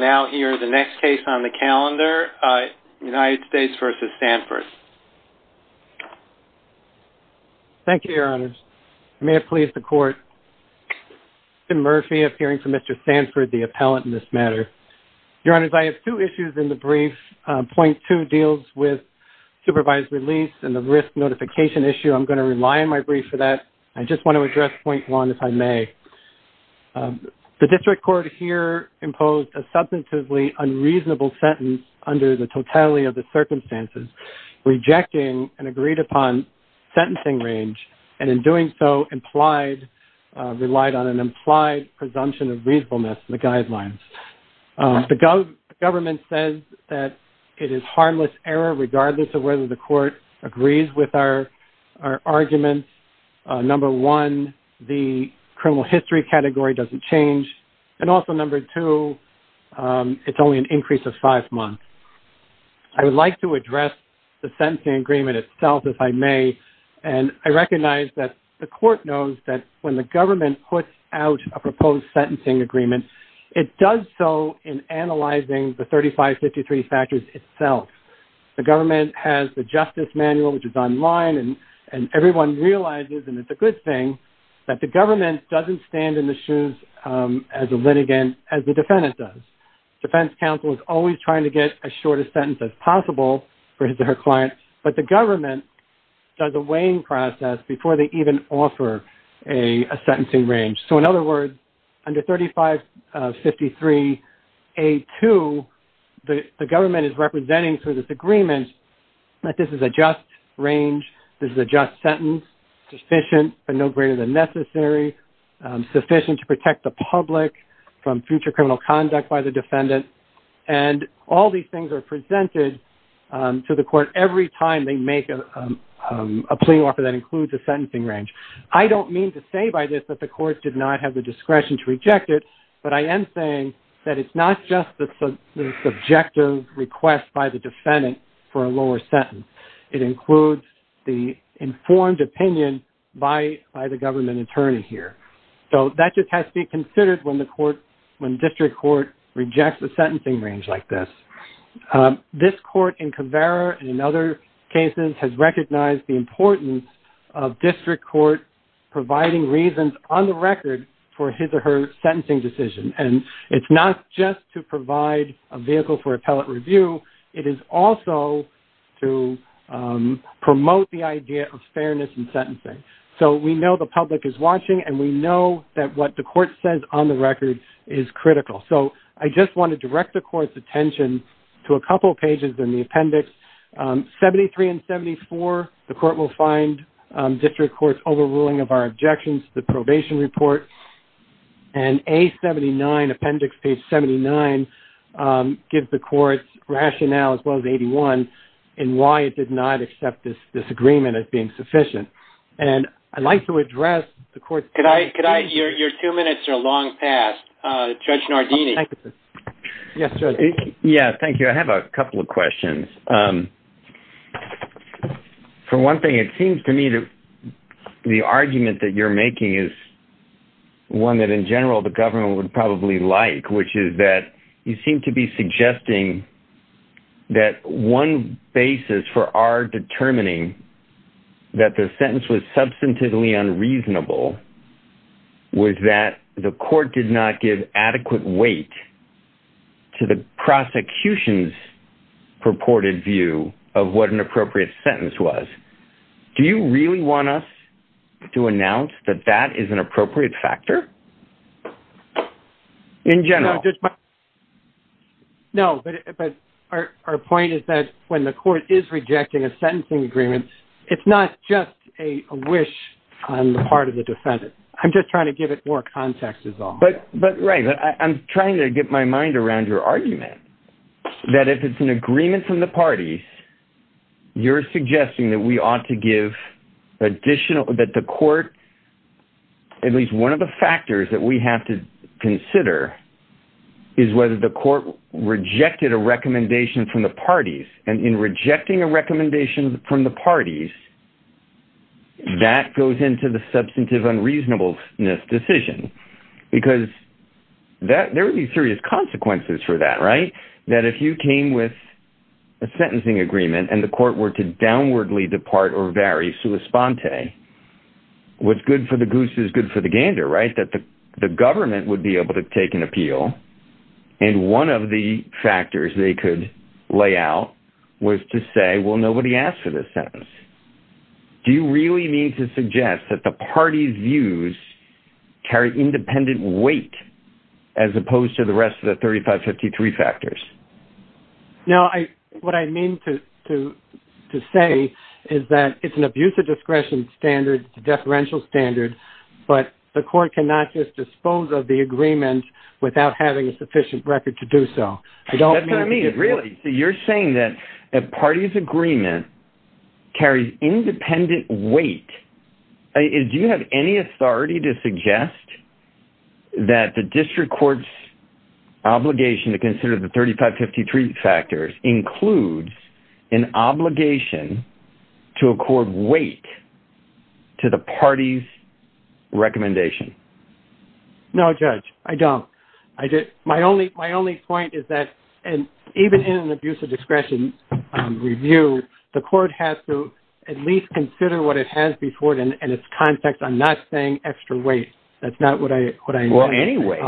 I have two issues in the brief. Point 2 deals with supervised release and the risk notification issue. I'm going to rely on my brief for that. I just want to address point 1 if I may. The unreasonable sentence under the totality of the circumstances, rejecting an agreed upon sentencing range and in doing so implied relied on an implied presumption of reasonableness in the guidelines. The government says that it is harmless error regardless of whether the court agrees with our arguments. Number one, the criminal history category doesn't change and also number two, it's only an increase of five months. I would like to address the sentencing agreement itself if I may and I recognize that the court knows that when the government puts out a proposed sentencing agreement, it does so in analyzing the 3553 factors itself. The government has the justice manual which is online and everyone realizes and it's a good thing that the government doesn't stand in the shoes as a litigant as the defendant does. Defense counsel is always trying to get as short a sentence as possible for his or her client but the government does a weighing process before they even offer a sentencing range. So in other words, under 3553A2, the government is representing through this agreement that this is a just range, this is a just sentence, sufficient but no greater than necessary, sufficient to protect the public from future criminal conduct by the defendant and all these things are presented to the court every time they make a plea offer that includes a sentencing range. I don't mean to say by this that the court did not have the discretion to reject it but I am saying that it's not just the subjective request by the defendant for a lower sentence. It includes the informed opinion by the government attorney here. So that just has to be considered when the court, when district court rejects the sentencing range like this. This court in Caveira and in other cases has recognized the importance of district court providing reasons on the record for his or her sentencing decision and it's not just to provide a vehicle for appellate review. It is also to promote the idea of fairness in sentencing. So we know the public is watching and we know that what the court says on the record is critical. So I just want to direct the court's attention to a couple of pages in the appendix. 73 and 74, the court will find district court's overruling of our objections to the probation report. And A79, appendix page 79, gives the court's rationale as well as 81 in why it did not accept this agreement as being sufficient. And I'd like to address the court's... Your two minutes are long past. Judge Nardini. Yes, Judge. Yeah, thank you. I have a couple of questions. For one thing, it seems to me that the argument that you're making is one that in general, the government would probably like, which is that you seem to be suggesting that one basis for our determining that the sentence was substantively unreasonable was that the court did not give adequate weight to the prosecution's purported view of what an appropriate sentence was. Do you really want us to announce that that is an appropriate factor in general? No, but our point is that when the court is rejecting a sentencing agreement, it's not just a wish on the part of the defendant. I'm just trying to give it more context as well. But right. I'm trying to get my mind around your argument that if it's an agreement from the parties, you're suggesting that we ought to give additional, that the court, at least one of the factors that we have to consider is whether the court rejected a recommendation from the parties. And in rejecting a recommendation from the parties, that goes into the substantive unreasonableness decision, because there would be serious consequences for that, right? That if you came with a sentencing agreement and the court were to downwardly depart or vary sua sponte, what's good for the goose is good for the gander, right? That the government would be was to say, well, nobody asked for this sentence. Do you really mean to suggest that the party's views carry independent weight as opposed to the rest of the 3553 factors? No, I, what I mean to say is that it's an abuse of discretion standard, deferential standard, but the court cannot just dispose of the agreement without having a sufficient record to do so. That's what I mean, really. So you're saying that a party's agreement carries independent weight. Do you have any authority to suggest that the district court's obligation to consider the 3553 factors includes an obligation to accord weight to the party's recommendation? No, Judge, I don't. I just, my only point is that, and even in an abuse of discretion review, the court has to at least consider what it has before it and its context. I'm not saying extra weight. That's not what I mean. Well, anyway,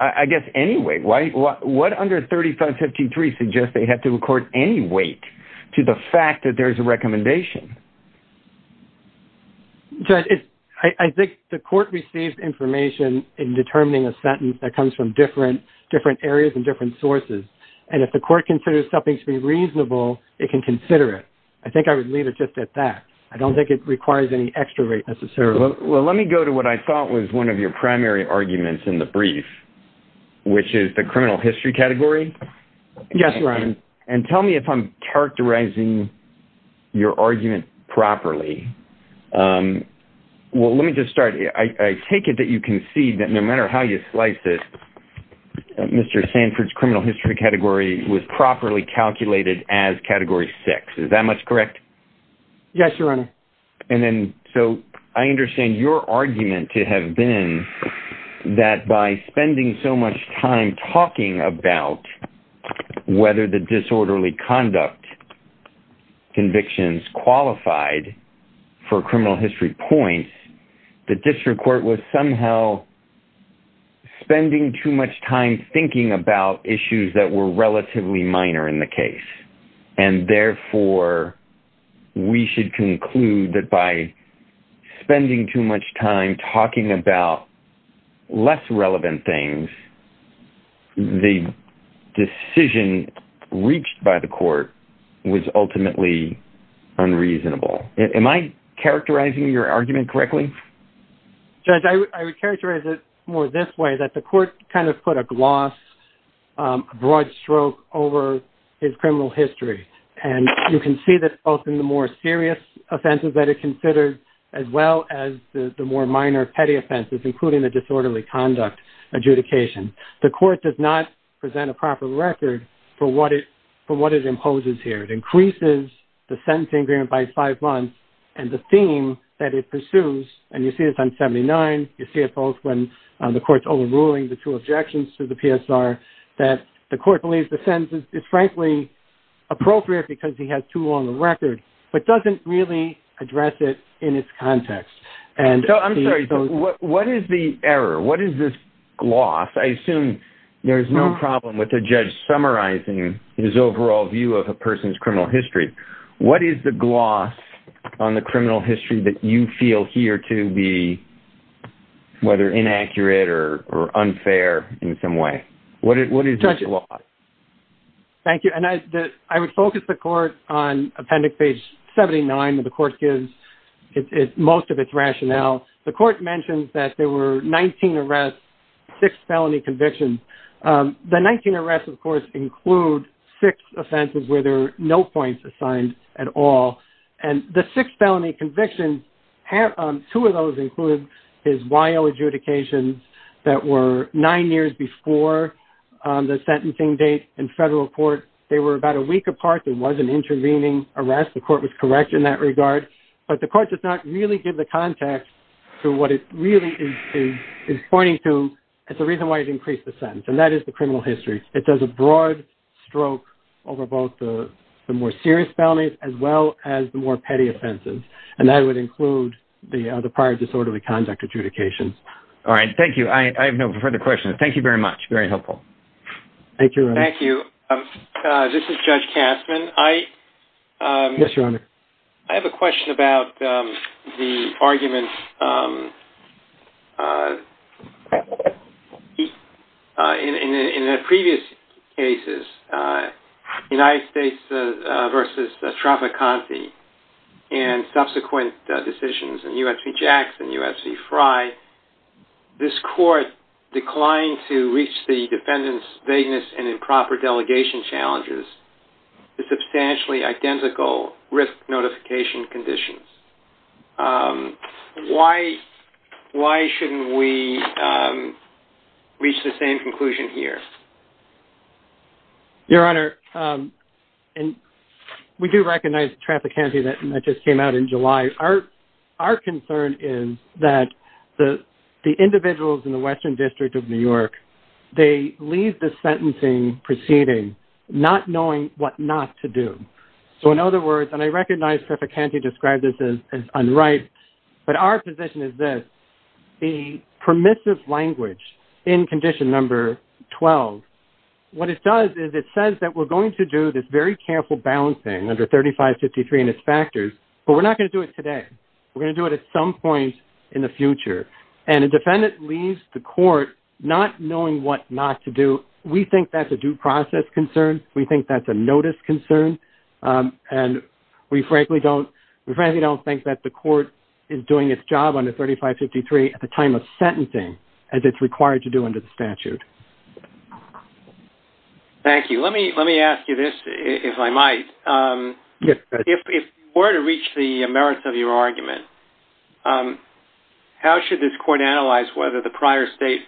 I guess anyway, what under 3553 suggests they have to accord any weight to the fact that there's a recommendation? Judge, it's, I think the court receives information in determining a sentence that comes from different, different areas and different sources. And if the court considers something to be reasonable, it can consider it. I think I would leave it just at that. I don't think it requires any extra weight necessarily. Well, let me go to what I thought was one of your primary arguments in the brief, and tell me if I'm characterizing your argument properly. Well, let me just start. I take it that you can see that no matter how you slice it, Mr. Sanford's criminal history category was properly calculated as category six. Is that much correct? Yes, Your Honor. And then, so I understand your argument to have been that by spending so much time talking about whether the disorderly conduct convictions qualified for criminal history points, the district court was somehow spending too much time thinking about issues that were relatively minor in the case. And therefore we should conclude that by spending too much time talking about less relevant things, the decision reached by the court was ultimately unreasonable. Am I characterizing your argument correctly? Judge, I would characterize it more this way, that the court kind of put a gloss, a broad stroke over his criminal history. And you can see that both in the more serious offenses that are considered as well as the more minor petty offenses, including the disorderly conduct adjudication, the court does not present a proper record for what it imposes here. It increases the sentencing agreement by five months and the theme that it pursues, and you see this on 79, you see it both when the court's overruling the two objections to the PSR, that the court believes the sentence is frankly appropriate because he has too long a record, but doesn't really address it in its context. And so I'm sorry, what is the error? What is this gloss? I assume there is no problem with the judge summarizing his overall view of a person's criminal history. What is the gloss on the criminal history that you feel here to be, whether inaccurate or unfair in some way? What is this gloss? Thank you. And I would focus the court on appendix page 79, where the court gives most of its rationale. The court mentioned that there were 19 arrests, six felony convictions. The 19 arrests, of course, include six offenses where there are no points assigned at all. And the six felony convictions, two of those include his Y.O. adjudications that were nine years before the sentencing date in federal court. They were about a week apart. There was an intervening arrest. The court was correct in that regard. But the court does not really give the context to what it really is pointing to. It's the reason why it increased the sentence. And that is the criminal history. It does a broad stroke over both the more serious felonies as well as the more petty offenses. And that would include the prior disorderly conduct adjudications. All right. Thank you. I have no further questions. Thank you very much. Very helpful. Thank you. Thank you. This is Judge Kastman. Yes, Your Honor. I have a question about the argument in the previous cases, United States versus Tropicante and subsequent decisions in U.S. v. Challenges, the substantially identical risk notification conditions. Why shouldn't we reach the same conclusion here? Your Honor, we do recognize Tropicante that just came out in July. Our concern is that the not knowing what not to do. So, in other words, and I recognize Tropicante described this as unright, but our position is that the permissive language in condition number 12, what it does is it says that we're going to do this very careful balancing under 3553 and its factors, but we're not going to do it today. We're going to do it at some point in the future. And a defendant leaves the court not knowing what not to do, we think that's a due process concern. We think that's a notice concern. And we frankly don't think that the court is doing its job under 3553 at the time of sentencing as it's required to do under the statute. Thank you. Let me ask you this, if I might. Yes, Judge. If you were to reach the merits of your argument, how should this court analyze whether the prior state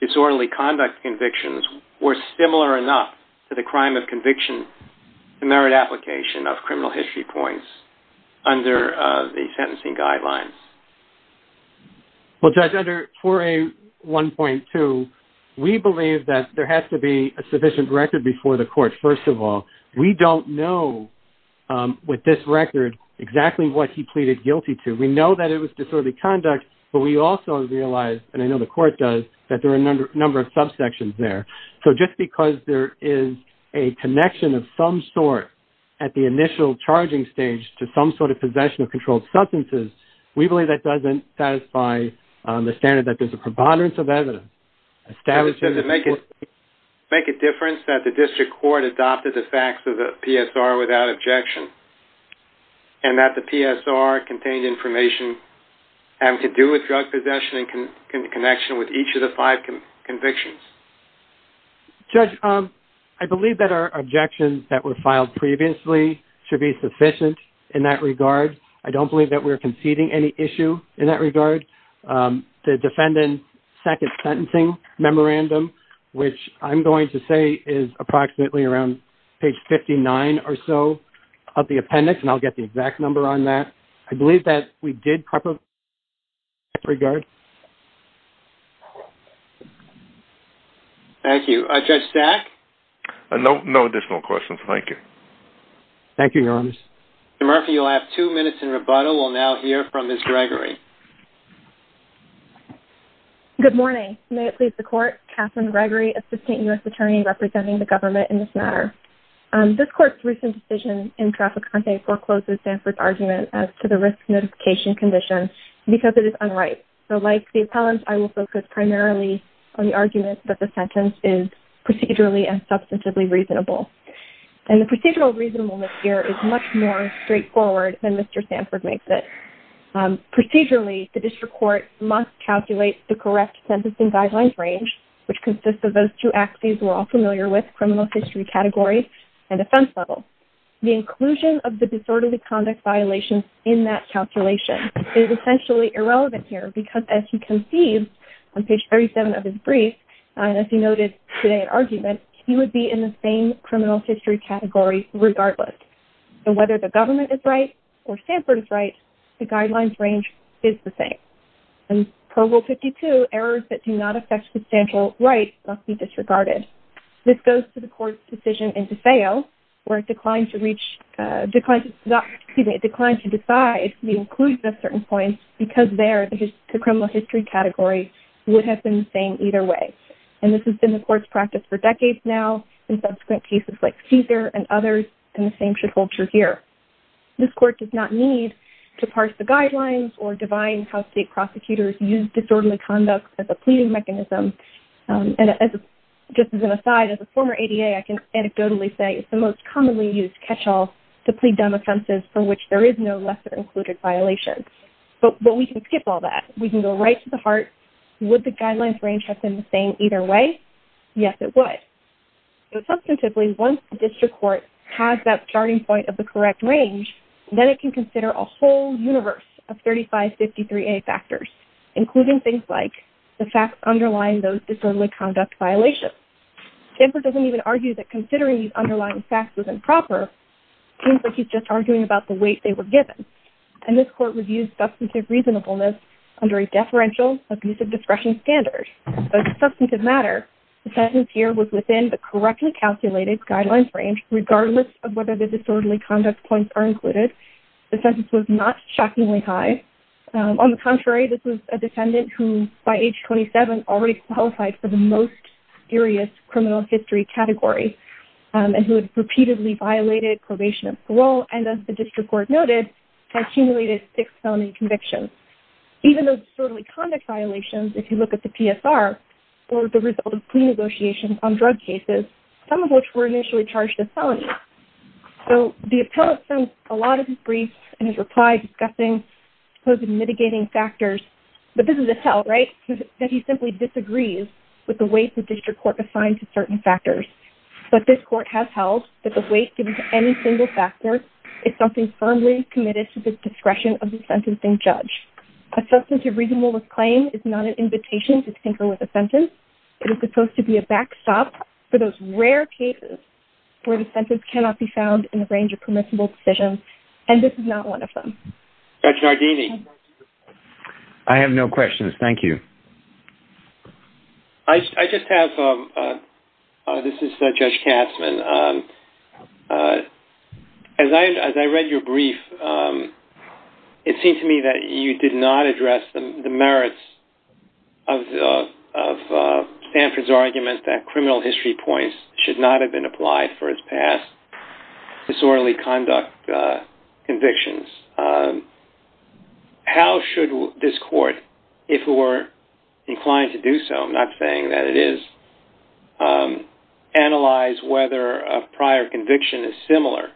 disorderly conduct convictions were similar enough to the crime of conviction to merit application of criminal history points under the sentencing guidelines? Well, Judge, under 4A1.2, we believe that there has to be a sufficient record before the court. First of all, we don't know with this record exactly what he pleaded guilty to. We know that it was disorderly conduct, but we also realize, and I know the court does, that there are a number of subsections there. So just because there is a connection of some sort at the initial charging stage to some sort of possession of controlled substances, we believe that doesn't satisfy the standard that there's a preponderance of evidence. Does it make a difference that the district court adopted the facts of the PSR without objection and that the PSR contained information have to do with drug possession in connection with each of the five convictions? Judge, I believe that our objections that were filed previously should be sufficient in that regard. I don't believe that we're conceding any issue in that regard. The defendant's second sentencing memorandum, which I'm going to say is approximately around page 59 or so of the memorandum, I don't believe that we did compromise in that regard. Thank you. Judge Stack? No additional questions. Thank you. Thank you, Your Honor. Mr. Murphy, you'll have two minutes in rebuttal. We'll now hear from Ms. Gregory. Good morning. May it please the court, Katherine Gregory, assistant U.S. attorney representing the government in this matter. This court's recent decision in trafficante forecloses Sanford's argument as to the risk notification condition because it is unright. So, like the appellant, I will focus primarily on the argument that the sentence is procedurally and substantively reasonable. And the procedural reasonableness here is much more straightforward than Mr. Sanford makes it. Procedurally, the district court must calculate the correct sentencing guidelines range, which consists of those two axes we're all familiar with, criminal history category and offense level. The inclusion of the disorderly conduct violation in that calculation is essentially irrelevant here because as he conceived on page 37 of his brief, and as he noted today in argument, he would be in the same criminal history category regardless. So, whether the government is right or Sanford is right, the guidelines range is the same. And Provo 52, errors that do not affect substantial right must be disregarded. This goes to the court's decision in DeFeo, where it declined to reach, excuse me, it declined to decide the inclusion of certain points because there the criminal history category would have been the same either way. And this has been the court's practice for decades now, in subsequent cases like Caesar and others, and the same should hold true here. This court does not need to parse the guidelines or divine how state prosecutors use disorderly conduct as a pleading mechanism. And just as an aside, as a former ADA, I can anecdotally say it's the most commonly used catch-all to plead dumb offenses for which there is no lesser included violation. But we can skip all that. We can go right to the heart. Would the guidelines range have been the same either way? Yes, it would. Substantively, once the district court has that starting point of the correct range, then it can consider a whole universe of 3553A factors, including things like the facts underlying those disorderly conduct violations. Stanford doesn't even argue that considering these underlying facts was improper. Seems like he's just arguing about the weight they were given. And this court reviews substantive reasonableness under a deferential abusive discretion standard. Substantive matter, the sentence here was within the correctly calculated guidelines range, regardless of whether the disorderly conduct points are included. The sentence was not shockingly high. On the contrary, this was a defendant who, by age 27, already qualified for the most serious criminal history category, and who had repeatedly violated probation and parole, and as the district court noted, had accumulated six felony convictions. Even those disorderly conduct violations, if you look at the PSR, were the result of pre-negotiations on drug cases, some of which were initially charged as felonies. So the appellate sent a lot of his briefs and his reply discussing mitigating factors, but this is a tell, right? That he simply disagrees with the way the district court assigned to certain factors. But this court has held that the weight given to any single factor is something firmly committed to the discretion of the sentencing judge. A substantive reasonableness claim is not an invitation to tinker with a sentence. It is supposed to be a backstop for those rare cases where the sentence cannot be changed. Judge Nardini? I have no questions. Thank you. I just have, this is Judge Katzmann. As I read your brief, it seemed to me that you did not address the merits of Sanford's argument that criminal history points should not have been changed. How should this court, if it were inclined to do so, I'm not saying that it is, analyze whether a prior conviction is similar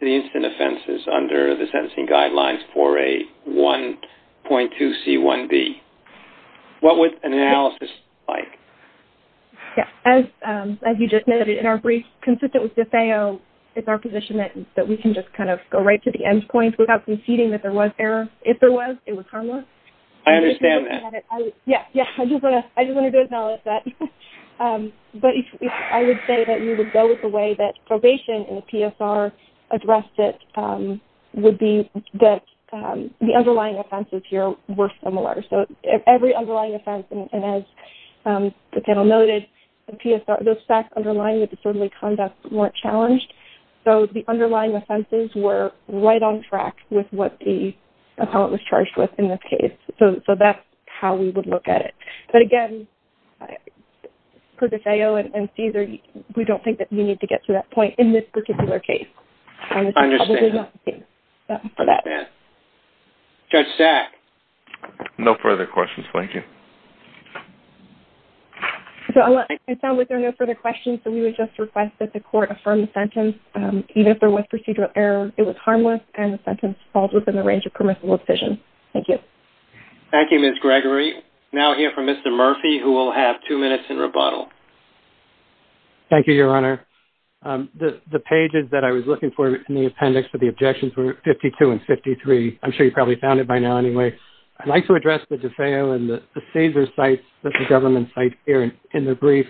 to the instant offenses under the sentencing guidelines for a 1.2C1B? What would an analysis look like? As you just noted in our brief, consistent with the FAO, it's our position that we can just kind of go right to the end points without conceding that there was error. If there was, it was harmless. I understand that. Yeah, yeah. I just want to do an analysis. But I would say that you would go with the way that probation in the PSR addressed it, would be that the underlying offenses here were similar. So every underlying offense, and as the panel noted, the PSR, those facts underlying the disorderly conduct weren't challenged. So the underlying offenses were right on track with what the appellant was charged with in this case. So that's how we would look at it. But again, for the FAO and CSER, we don't think that we need to get to that point in this particular case. I understand. Judge Stack? No further questions. Thank you. So it sounds like there are no further questions. So we would just request that the court affirm the sentence. Even if there was procedural error, it was harmless and the sentence falls within the range of permissible decision. Thank you. Thank you, Ms. Gregory. Now, here from Mr. Murphy, who will have two minutes in rebuttal. Thank you, Your Honor. The pages that I was looking for in the appendix for the objections were 52 and 53. I'm sure you probably found it by now anyway. I'd like to address the in the brief.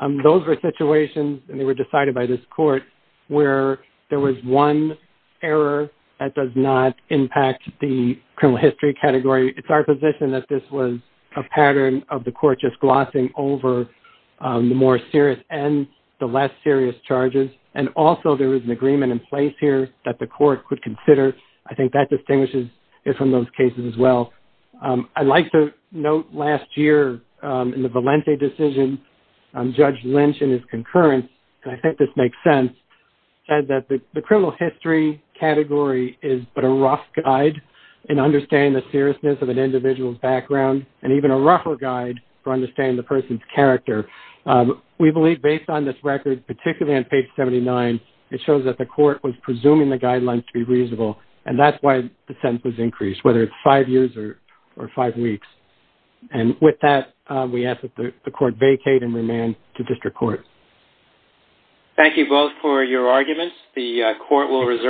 Those were situations, and they were decided by this court, where there was one error that does not impact the criminal history category. It's our position that this was a pattern of the court just glossing over the more serious ends, the less serious charges. And also, there was an agreement in place here that the court could consider. I think that in the Valente decision, Judge Lynch, in his concurrence, and I think this makes sense, said that the criminal history category is but a rough guide in understanding the seriousness of an individual's background, and even a rougher guide for understanding the person's character. We believe, based on this record, particularly on page 79, it shows that the court was presuming the guidelines to be reasonable. And that's why the sentence was increased, whether it's five years or five weeks. And with that, we ask that the court vacate and remand to district court. Thank you both for your arguments. The court will reserve...